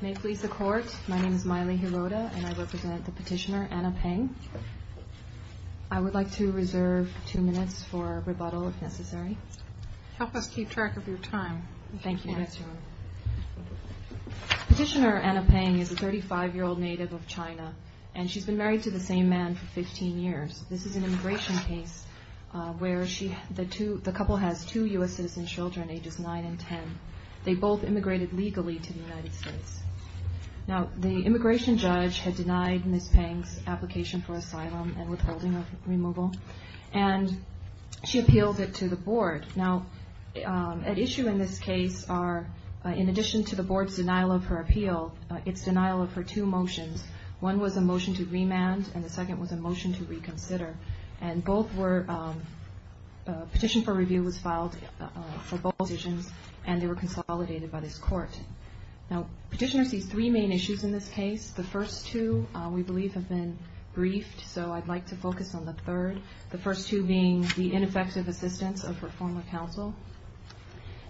May it please the court, my name is Maile Hirota and I represent the petitioner Anna Peng. I would like to reserve two minutes for rebuttal if necessary. Help us keep track of your time. Thank you. Petitioner Anna Peng is a 35-year-old native of China and she's been married to the same man for 15 years. This is an immigration case where the couple has two U.S. citizen children ages 9 and 10. They both immigrated legally to the United States. Now the immigration judge had denied Ms. Peng's application for asylum and withholding of removal and she appealed it to the board. Now at issue in this case are, in addition to the board's denial of her appeal, it's denial of her two motions. One was a motion to remand and the second was a motion to reconsider. And both were, a petition for review was filed for both decisions and they were consolidated by this court. Now petitioner sees three main issues in this case. The first two we believe have been briefed so I'd like to focus on the third. The first two being the ineffective assistance of her former counsel.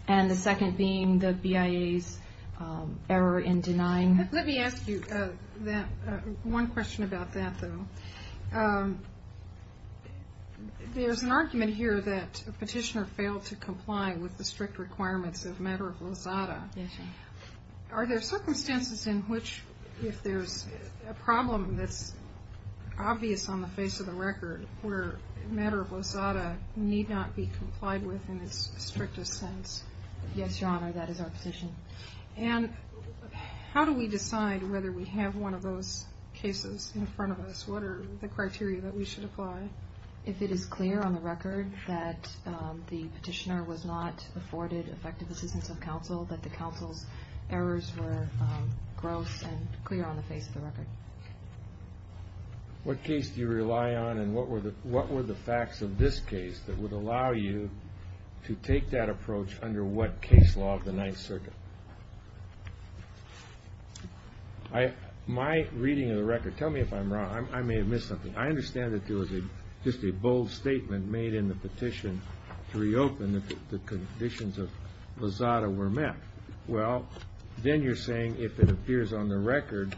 And the second being the BIA's error in denying. Let me ask you one question about that, though. There's an argument here that a petitioner failed to comply with the strict requirements of Matter of Lozada. Are there circumstances in which if there's a problem that's obvious on the face of the record where Matter of Lozada need not be complied with in its strictest sense? Yes, Your Honor, that is our position. And how do we decide whether we have one of those cases in front of us? What are the criteria that we should apply? If it is clear on the record that the petitioner was not afforded effective assistance of counsel, that the counsel's errors were gross and clear on the face of the record. What case do you rely on and what were the facts of this case that would allow you to take that approach under what case law of the Ninth Circuit? My reading of the record, tell me if I'm wrong. I may have missed something. I understand that there was just a bold statement made in the petition to reopen if the conditions of Lozada were met. Well, then you're saying if it appears on the record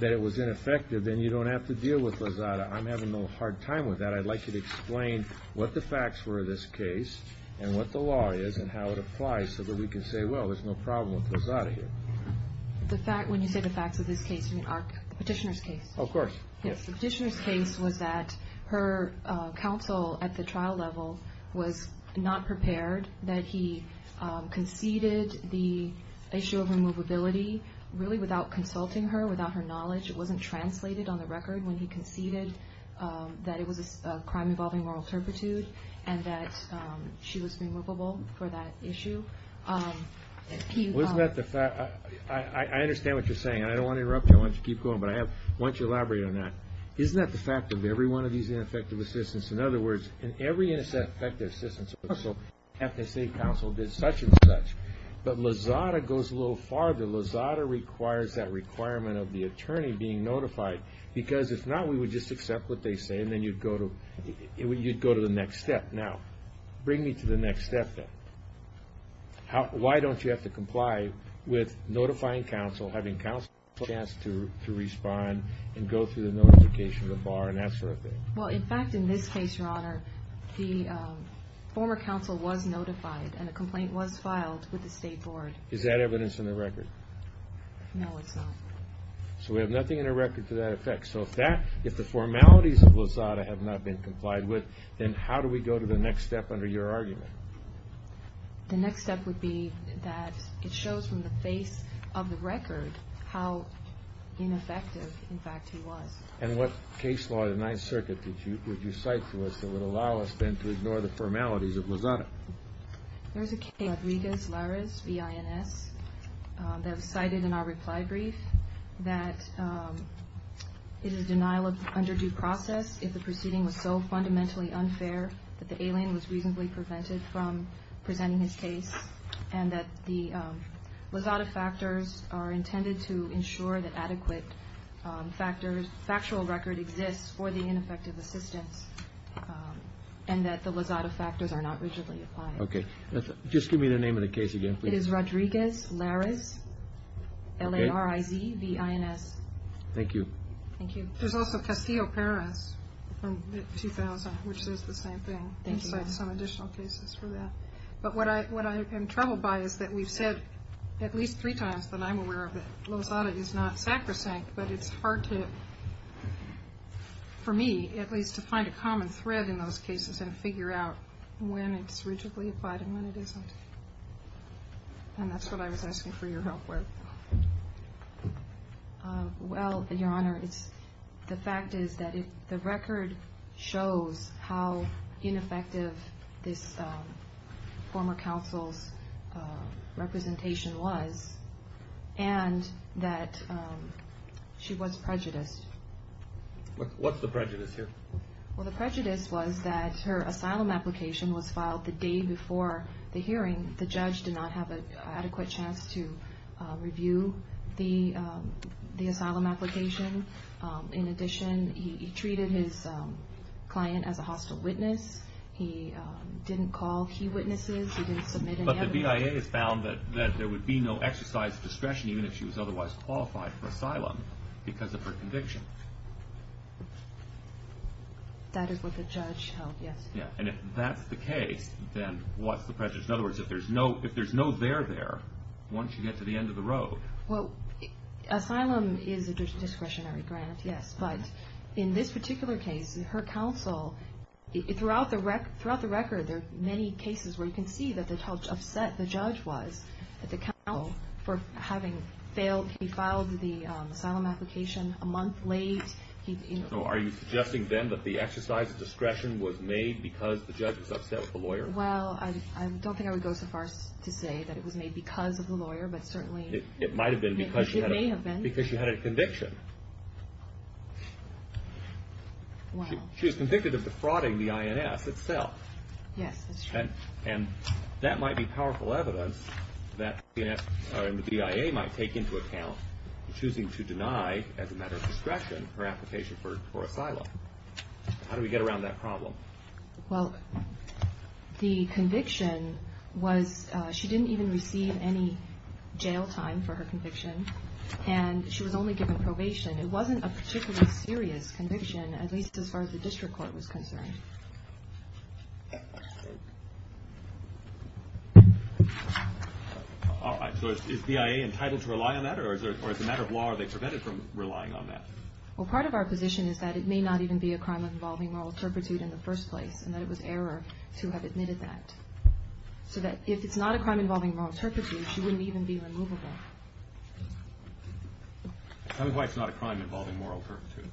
that it was ineffective, then you don't have to deal with Lozada. I'm having a little hard time with that. I'd like you to explain what the facts were of this case and what the law is and how it applies so that we can say, well, there's no problem with Lozada here. When you say the facts of this case, you mean the petitioner's case? Of course. The petitioner's case was that her counsel at the trial level was not prepared, that he conceded the issue of removability really without consulting her, without her knowledge. It wasn't translated on the record when he conceded that it was a crime involving moral turpitude and that she was removable for that issue. I understand what you're saying. I don't want to interrupt you. I want you to keep going, but I want you to elaborate on that. Isn't that the fact of every one of these ineffective assistance? In other words, in every ineffective assistance, the Ethnicity Council did such and such, but Lozada goes a little farther. Lozada requires that requirement of the attorney being notified, because if not, we would just accept what they say and then you'd go to the next step. Now, bring me to the next step then. Why don't you have to comply with notifying counsel, having counsel have a chance to respond and go through the notification of the bar and that sort of thing? Well, in fact, in this case, Your Honor, the former counsel was notified and a complaint was filed with the State Board. Is that evidence in the record? No, it's not. So we have nothing in the record to that effect. So if the formalities of Lozada have not been complied with, then how do we go to the next step under your argument? The next step would be that it shows from the face of the record how ineffective, in fact, he was. And what case law in the Ninth Circuit would you cite for us that would allow us then to ignore the formalities of Lozada? There's a case, Rodriguez-Larez v. INS, that was cited in our reply brief, that it is a denial of underdue process if the proceeding was so fundamentally unfair that the alien was reasonably prevented from presenting his case and that the Lozada factors are intended to ensure that adequate factual record exists for the ineffective assistance and that the Lozada factors are not rigidly applied. Okay. Just give me the name of the case again, please. It is Rodriguez-Larez, L-A-R-I-Z, v. INS. Thank you. Thank you. There's also Castillo-Perez from 2000, which is the same thing. Thank you. I would cite some additional cases for that. But what I am troubled by is that we've said at least three times that I'm aware that Lozada is not sacrosanct, but it's hard to, for me at least, to find a common thread in those cases and figure out when it's rigidly applied and when it isn't. And that's what I was asking for your help with. Well, Your Honor, the fact is that the record shows how ineffective this former counsel's representation was and that she was prejudiced. What's the prejudice here? Well, the prejudice was that her asylum application was filed the day before the hearing. The judge did not have an adequate chance to review the asylum application. In addition, he treated his client as a hostile witness. He didn't call key witnesses. He didn't submit any evidence. But the BIA has found that there would be no exercise of discretion even if she was otherwise qualified for asylum because of her conviction. That is what the judge held, yes. And if that's the case, then what's the prejudice? In other words, if there's no there there, won't she get to the end of the road? Well, asylum is a discretionary grant, yes. But in this particular case, her counsel, throughout the record, there are many cases where you can see how upset the judge was at the counsel for having failed. He filed the asylum application a month late. So are you suggesting then that the exercise of discretion was made because the judge was upset with the lawyer? Well, I don't think I would go so far as to say that it was made because of the lawyer, but certainly it may have been. It might have been because she had a conviction. She was convicted of defrauding the INS itself. Yes, that's true. And that might be powerful evidence that the BIA might take into account in choosing to deny, as a matter of discretion, her application for asylum. How do we get around that problem? Well, the conviction was she didn't even receive any jail time for her conviction, and she was only given probation. It wasn't a particularly serious conviction, at least as far as the district court was concerned. All right. So is BIA entitled to rely on that, or as a matter of law, are they prevented from relying on that? Well, part of our position is that it may not even be a crime involving moral turpitude in the first place, and that it was error to have admitted that. So that if it's not a crime involving moral turpitude, she wouldn't even be removable. Tell me why it's not a crime involving moral turpitude.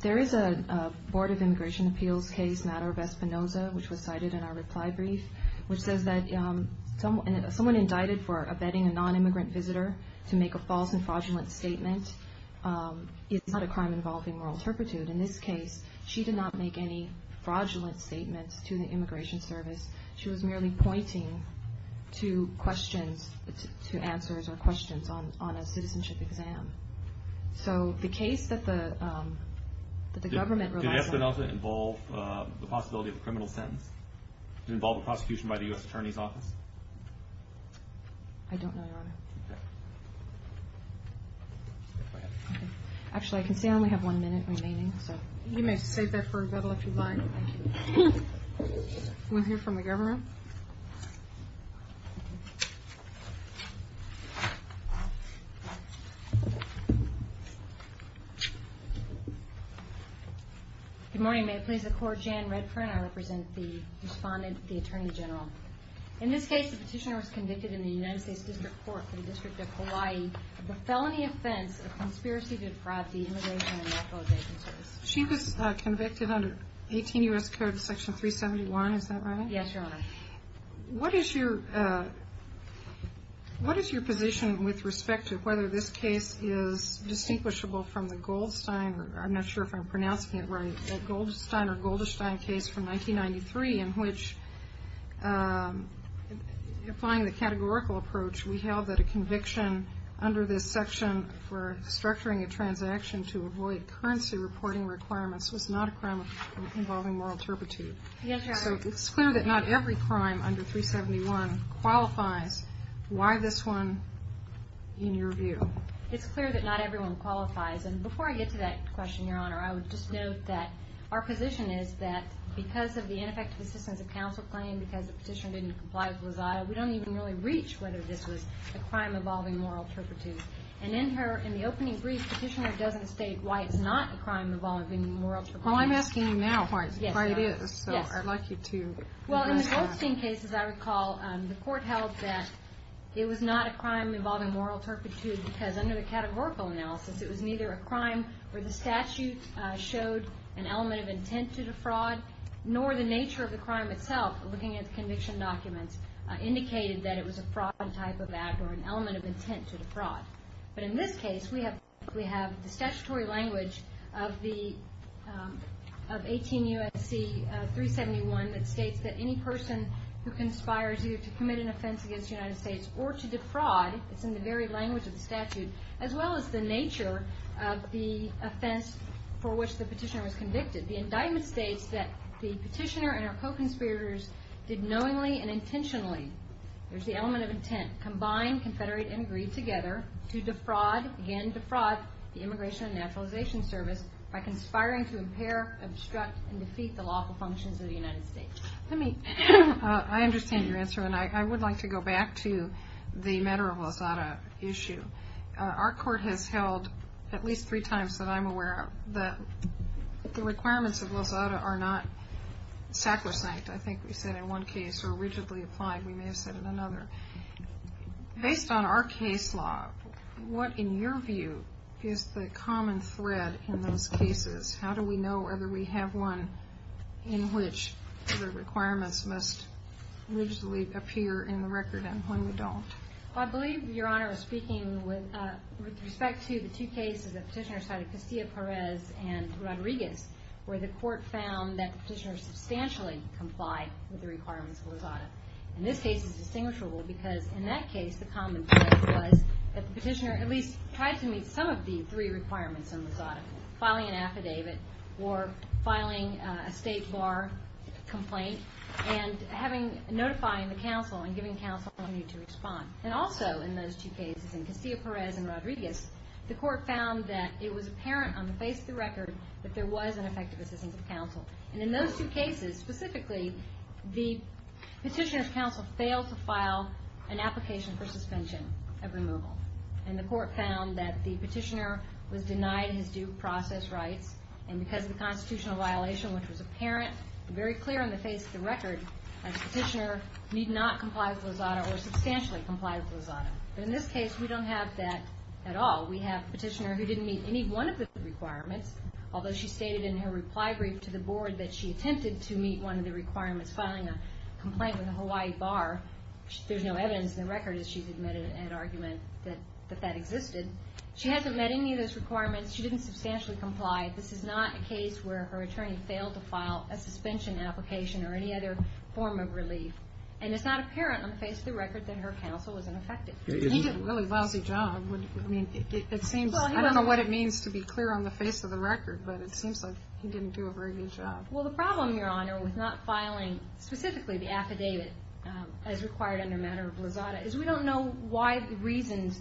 There is a Board of Immigration Appeals case, Matter of Espinoza, which was cited in our reply brief, which says that someone indicted for abetting a non-immigrant visitor to make a false and fraudulent statement is not a crime involving moral turpitude. In this case, she did not make any fraudulent statements to the immigration service. She was merely pointing to questions, to answers or questions on a citizenship exam. So the case that the government relies on— Did Espinoza involve the possibility of a criminal sentence? Did it involve a prosecution by the U.S. Attorney's Office? I don't know, Your Honor. Actually, I can see I only have one minute remaining. You may save that for a rebuttal if you'd like. We'll hear from the government. Good morning. May it please the Court, Jan Redfern. I represent the respondent, the Attorney General. In this case, the petitioner was convicted in the United States District Court for the District of Hawaii of the felony offense of conspiracy to defraud the Immigration and Naturalization Service. She was convicted under 18 U.S. Courts Section 371, is that right? Yes, Your Honor. What is your position with respect to whether this case is distinguishable from the Goldstein— I'm not sure if I'm pronouncing it right—the Goldstein or Goldestein case from 1993 in which, applying the categorical approach, we held that a conviction under this section for structuring a transaction to avoid currency reporting requirements was not a crime involving moral turpitude? Yes, Your Honor. So it's clear that not every crime under 371 qualifies. Why this one in your view? It's clear that not everyone qualifies. And before I get to that question, Your Honor, I would just note that our position is that because of the ineffective assistance of counsel claim, because the petitioner didn't comply with Lazada, we don't even really reach whether this was a crime involving moral turpitude. And in the opening brief, the petitioner doesn't state why it's not a crime involving moral turpitude. Well, I'm asking you now why it is, so I'd like you to— Well, in the Goldstein case, as I recall, the court held that it was not a crime involving moral turpitude because under the categorical analysis, it was neither a crime where the statute showed an element of intent to defraud nor the nature of the crime itself, looking at the conviction documents, indicated that it was a fraud type of act or an element of intent to defraud. But in this case, we have the statutory language of 18 U.S.C. 371 that states that any person who conspires either to commit an offense against the United States or to defraud, it's in the very language of the statute, as well as the nature of the offense for which the petitioner was convicted. The indictment states that the petitioner and her co-conspirators did knowingly and intentionally, there's the element of intent, combine, confederate, and agree together to defraud, again defraud, the Immigration and Naturalization Service by conspiring to impair, obstruct, and defeat the lawful functions of the United States. Let me—I understand your answer, and I would like to go back to the matter of Lozada issue. Our court has held at least three times that I'm aware of that the requirements of Lozada are not sacrosanct. I think we said in one case, or rigidly applied, we may have said in another. Based on our case law, what, in your view, is the common thread in those cases? How do we know whether we have one in which the requirements must rigidly appear in the record and when we don't? Well, I believe Your Honor is speaking with respect to the two cases that petitioners cited, Castillo-Perez and Rodriguez, where the court found that the petitioner substantially complied with the requirements of Lozada. And this case is distinguishable because in that case the common thread was that the petitioner at least tried to meet some of the three requirements in Lozada, filing an affidavit or filing a state bar complaint and having—notifying the counsel and giving counsel an opportunity to respond. And also in those two cases, in Castillo-Perez and Rodriguez, the court found that it was apparent on the face of the record that there was an effective assistance of counsel. And in those two cases, specifically, the petitioner's counsel failed to file an application for suspension of removal. And the court found that the petitioner was denied his due process rights, and because of the constitutional violation, which was apparent and very clear on the face of the record, that the petitioner need not comply with Lozada or substantially comply with Lozada. But in this case, we don't have that at all. We have a petitioner who didn't meet any one of the requirements, although she stated in her reply brief to the board that she attempted to meet one of the requirements, filing a complaint with a Hawaii bar. There's no evidence in the record that she's admitted an argument that that existed. She hasn't met any of those requirements. She didn't substantially comply. This is not a case where her attorney failed to file a suspension application or any other form of relief. And it's not apparent on the face of the record that her counsel was ineffective. He did a really lousy job. I don't know what it means to be clear on the face of the record, but it seems like he didn't do a very good job. Well, the problem, Your Honor, with not filing specifically the affidavit as required under matter of Lozada, is we don't know what reasons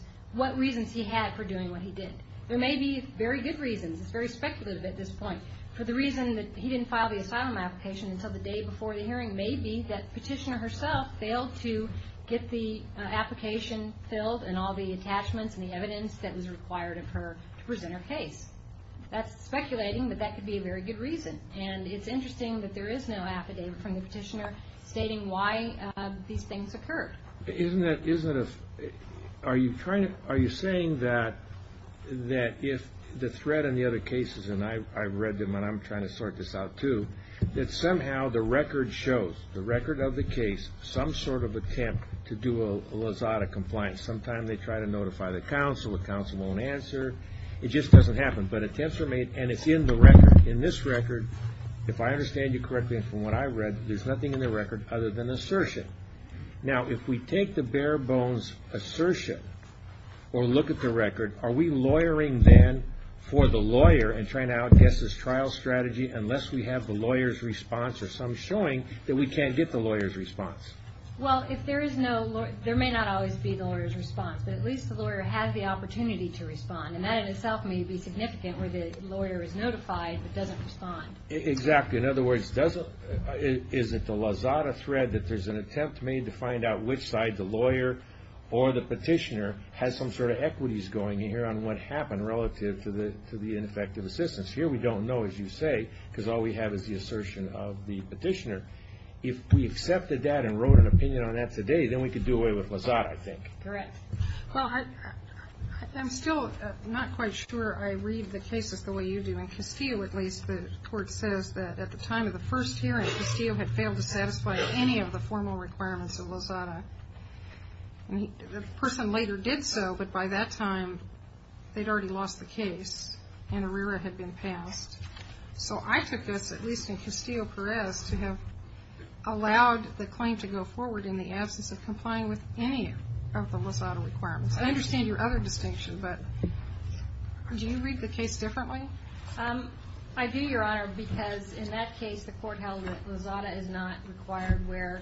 he had for doing what he did. There may be very good reasons. It's very speculative at this point. For the reason that he didn't file the asylum application until the day before the hearing, it may be that the petitioner herself failed to get the application filled and all the attachments and the evidence that was required of her to present her case. That's speculating, but that could be a very good reason. And it's interesting that there is no affidavit from the petitioner stating why these things occurred. Are you saying that if the threat in the other cases, and I've read them and I'm trying to sort this out too, that somehow the record shows, the record of the case, some sort of attempt to do a Lozada compliance. Sometimes they try to notify the counsel. The counsel won't answer. It just doesn't happen. But attempts are made, and it's in the record. In this record, if I understand you correctly from what I've read, there's nothing in the record other than assertion. Now, if we take the bare bones assertion or look at the record, are we lawyering then for the lawyer and trying to outguess his trial strategy unless we have the lawyer's response or some showing that we can't get the lawyer's response? Well, there may not always be the lawyer's response, but at least the lawyer has the opportunity to respond, and that in itself may be significant where the lawyer is notified but doesn't respond. Exactly. In other words, is it the Lozada thread that there's an attempt made to find out which side the lawyer or the petitioner has some sort of equities going here on what happened relative to the ineffective assistance? Here we don't know, as you say, because all we have is the assertion of the petitioner. If we accepted that and wrote an opinion on that today, then we could do away with Lozada, I think. Correct. Well, I'm still not quite sure I read the cases the way you do. In Castillo, at least, the court says that at the time of the first hearing, Castillo had failed to satisfy any of the formal requirements of Lozada. The person later did so, but by that time they'd already lost the case and Herrera had been passed. So I took this, at least in Castillo-Perez, to have allowed the claim to go forward in the absence of complying with any of the Lozada requirements. I understand your other distinction, but do you read the case differently? I do, Your Honor, because in that case the court held that Lozada is not required where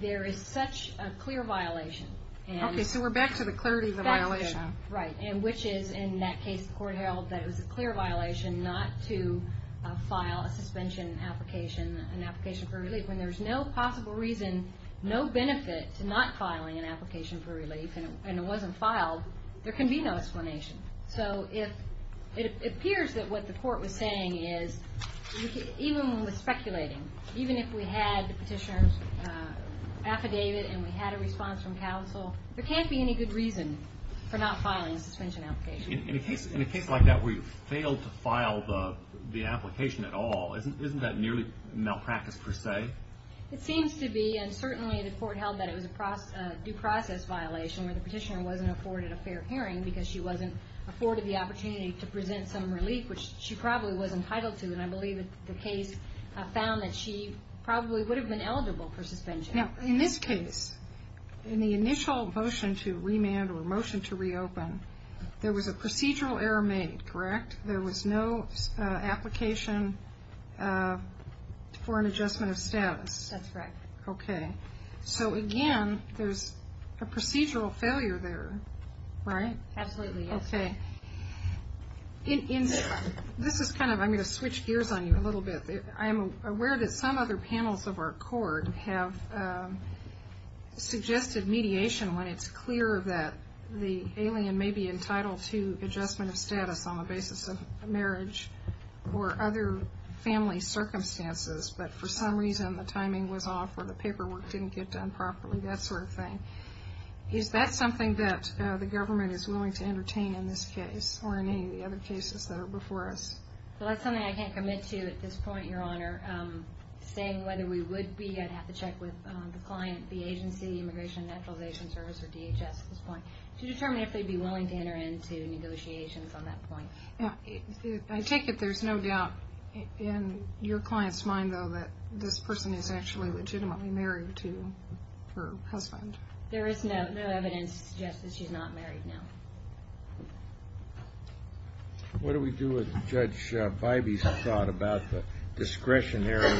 there is such a clear violation. Okay, so we're back to the clarity of the violation. Right, which is in that case the court held that it was a clear violation not to file a suspension application, an application for relief, when there's no possible reason, no benefit to not filing an application for relief and it wasn't filed, there can be no explanation. So it appears that what the court was saying is, even with speculating, even if we had the petitioner's affidavit and we had a response from counsel, there can't be any good reason for not filing a suspension application. In a case like that where you failed to file the application at all, isn't that nearly malpractice per se? It seems to be, and certainly the court held that it was a due process violation where the petitioner wasn't afforded a fair hearing because she wasn't afforded the opportunity to present some relief, which she probably was entitled to, and I believe the case found that she probably would have been eligible for suspension. Now, in this case, in the initial motion to remand or motion to reopen, there was a procedural error made, correct? There was no application for an adjustment of status. That's right. Okay. So again, there's a procedural failure there, right? Absolutely, yes. Okay. This is kind of, I'm going to switch gears on you a little bit. I am aware that some other panels of our court have suggested mediation when it's clear that the alien may be entitled to adjustment of status on the basis of marriage or other family circumstances, but for some reason the timing was off or the paperwork didn't get done properly, that sort of thing. Is that something that the government is willing to entertain in this case or in any of the other cases that are before us? Well, that's something I can't commit to at this point, Your Honor. Saying whether we would be, I'd have to check with the client, the agency, the Immigration and Naturalization Service or DHS at this point, to determine if they'd be willing to enter into negotiations on that point. I take it there's no doubt in your client's mind, though, that this person is actually legitimately married to her husband. There is no evidence to suggest that she's not married, no. What do we do with Judge Bybee's thought about the discretionary,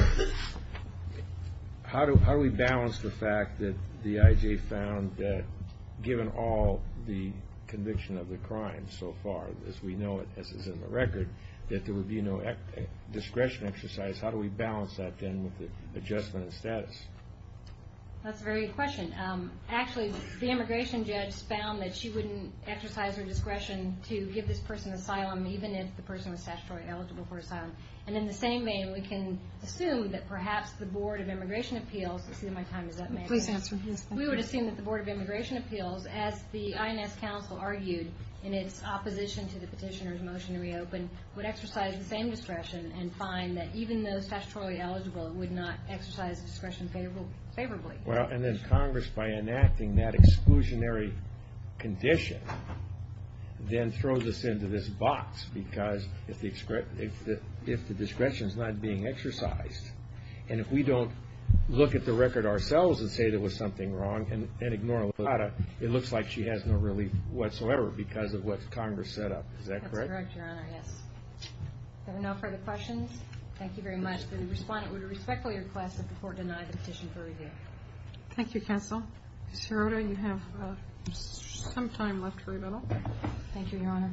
how do we balance the fact that the IJ found that given all the conviction of the crime so far, as we know it, as is in the record, that there would be no discretion exercise, how do we balance that then with the adjustment of status? That's a very good question. Actually, the immigration judge found that she wouldn't exercise her discretion to give this person asylum, even if the person was statutorily eligible for asylum. In the same vein, we can assume that perhaps the Board of Immigration Appeals, let's see if my time is up, may I? Please answer. We would assume that the Board of Immigration Appeals, as the INS Council argued in its opposition to the petitioner's motion to reopen, would exercise the same discretion and find that even though statutorily eligible, it would not exercise discretion favorably. And then Congress, by enacting that exclusionary condition, then throws us into this box because if the discretion is not being exercised, and if we don't look at the record ourselves and say there was something wrong and ignore it, it looks like she has no relief whatsoever because of what Congress set up. Is that correct? That's correct, Your Honor, yes. Are there no further questions? Thank you very much. The respondent would respectfully request that the Court deny the petition for review. Thank you, Counsel. Ms. Hirota, you have some time left for rebuttal. Thank you, Your Honor.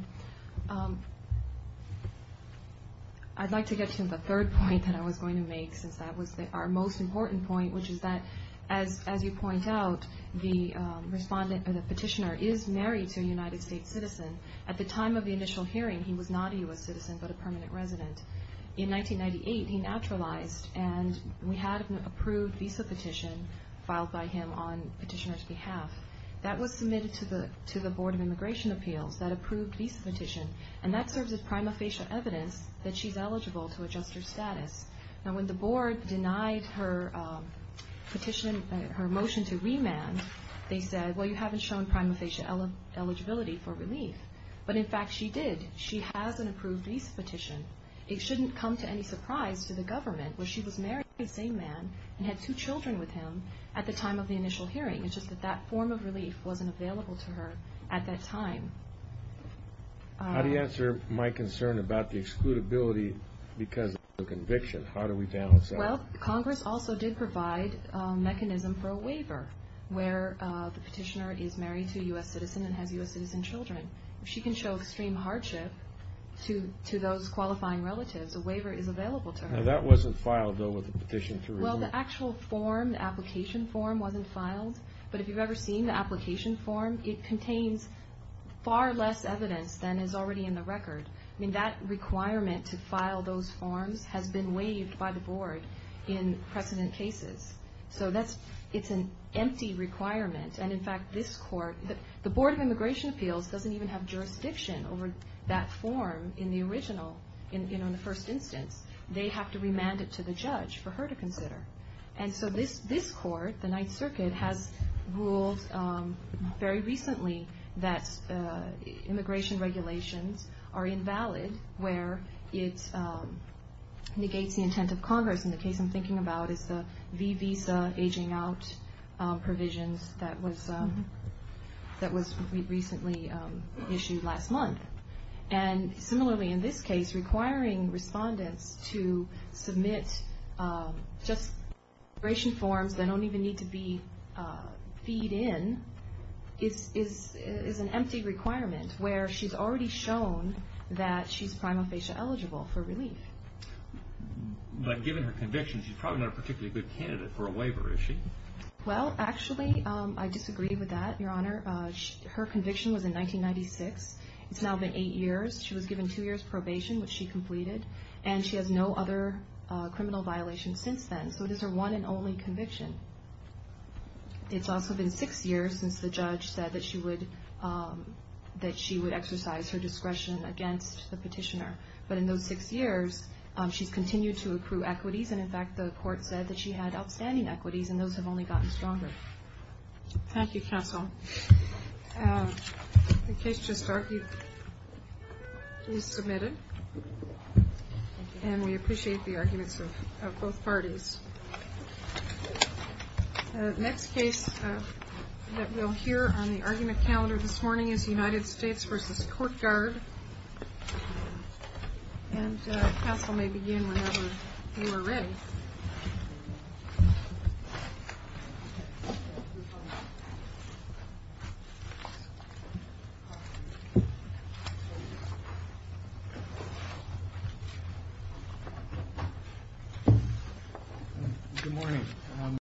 I'd like to get to the third point that I was going to make since that was our most important point, which is that as you point out, the respondent or the petitioner is married to a United States citizen. At the time of the initial hearing, he was not a U.S. citizen but a permanent resident. In 1998, he naturalized, and we had an approved visa petition filed by him on petitioner's behalf. That was submitted to the Board of Immigration Appeals, that approved visa petition, and that serves as prima facie evidence that she's eligible to adjust her status. Now, when the Board denied her petition, her motion to remand, they said, well, you haven't shown prima facie eligibility for relief. But, in fact, she did. She has an approved visa petition. It shouldn't come to any surprise to the government where she was married to the same man and had two children with him at the time of the initial hearing. It's just that that form of relief wasn't available to her at that time. How do you answer my concern about the excludability because of the conviction? How do we balance that? Well, Congress also did provide a mechanism for a waiver where the petitioner is married to a U.S. citizen and has U.S. citizen children. If she can show extreme hardship to those qualifying relatives, a waiver is available to her. Now, that wasn't filed, though, with the petition to remand. Well, the actual form, the application form, wasn't filed. But if you've ever seen the application form, it contains far less evidence than is already in the record. I mean, that requirement to file those forms has been waived by the Board in precedent cases. So it's an empty requirement. And, in fact, this court, the Board of Immigration Appeals doesn't even have jurisdiction over that form in the original, in the first instance. They have to remand it to the judge for her to consider. And so this court, the Ninth Circuit, has ruled very recently that immigration regulations are invalid where it negates the intent of Congress. And the case I'm thinking about is the v. visa aging out provisions that was recently issued last month. And, similarly, in this case, requiring respondents to submit just immigration forms that don't even need to be feed in is an empty requirement where she's already shown that she's prima facie eligible for relief. But given her conviction, she's probably not a particularly good candidate for a waiver, is she? Well, actually, I disagree with that, Your Honor. Her conviction was in 1996. It's now been eight years. She was given two years probation, which she completed. And she has no other criminal violations since then. So it is her one and only conviction. It's also been six years since the judge said that she would exercise her discretion against the petitioner. But in those six years, she's continued to accrue equities. And, in fact, the court said that she had outstanding equities, and those have only gotten stronger. Thank you, counsel. The case just argued is submitted. And we appreciate the arguments of both parties. The next case that we'll hear on the argument calendar this morning is United States v. Court Guard. And counsel may begin whenever you are ready. Good morning.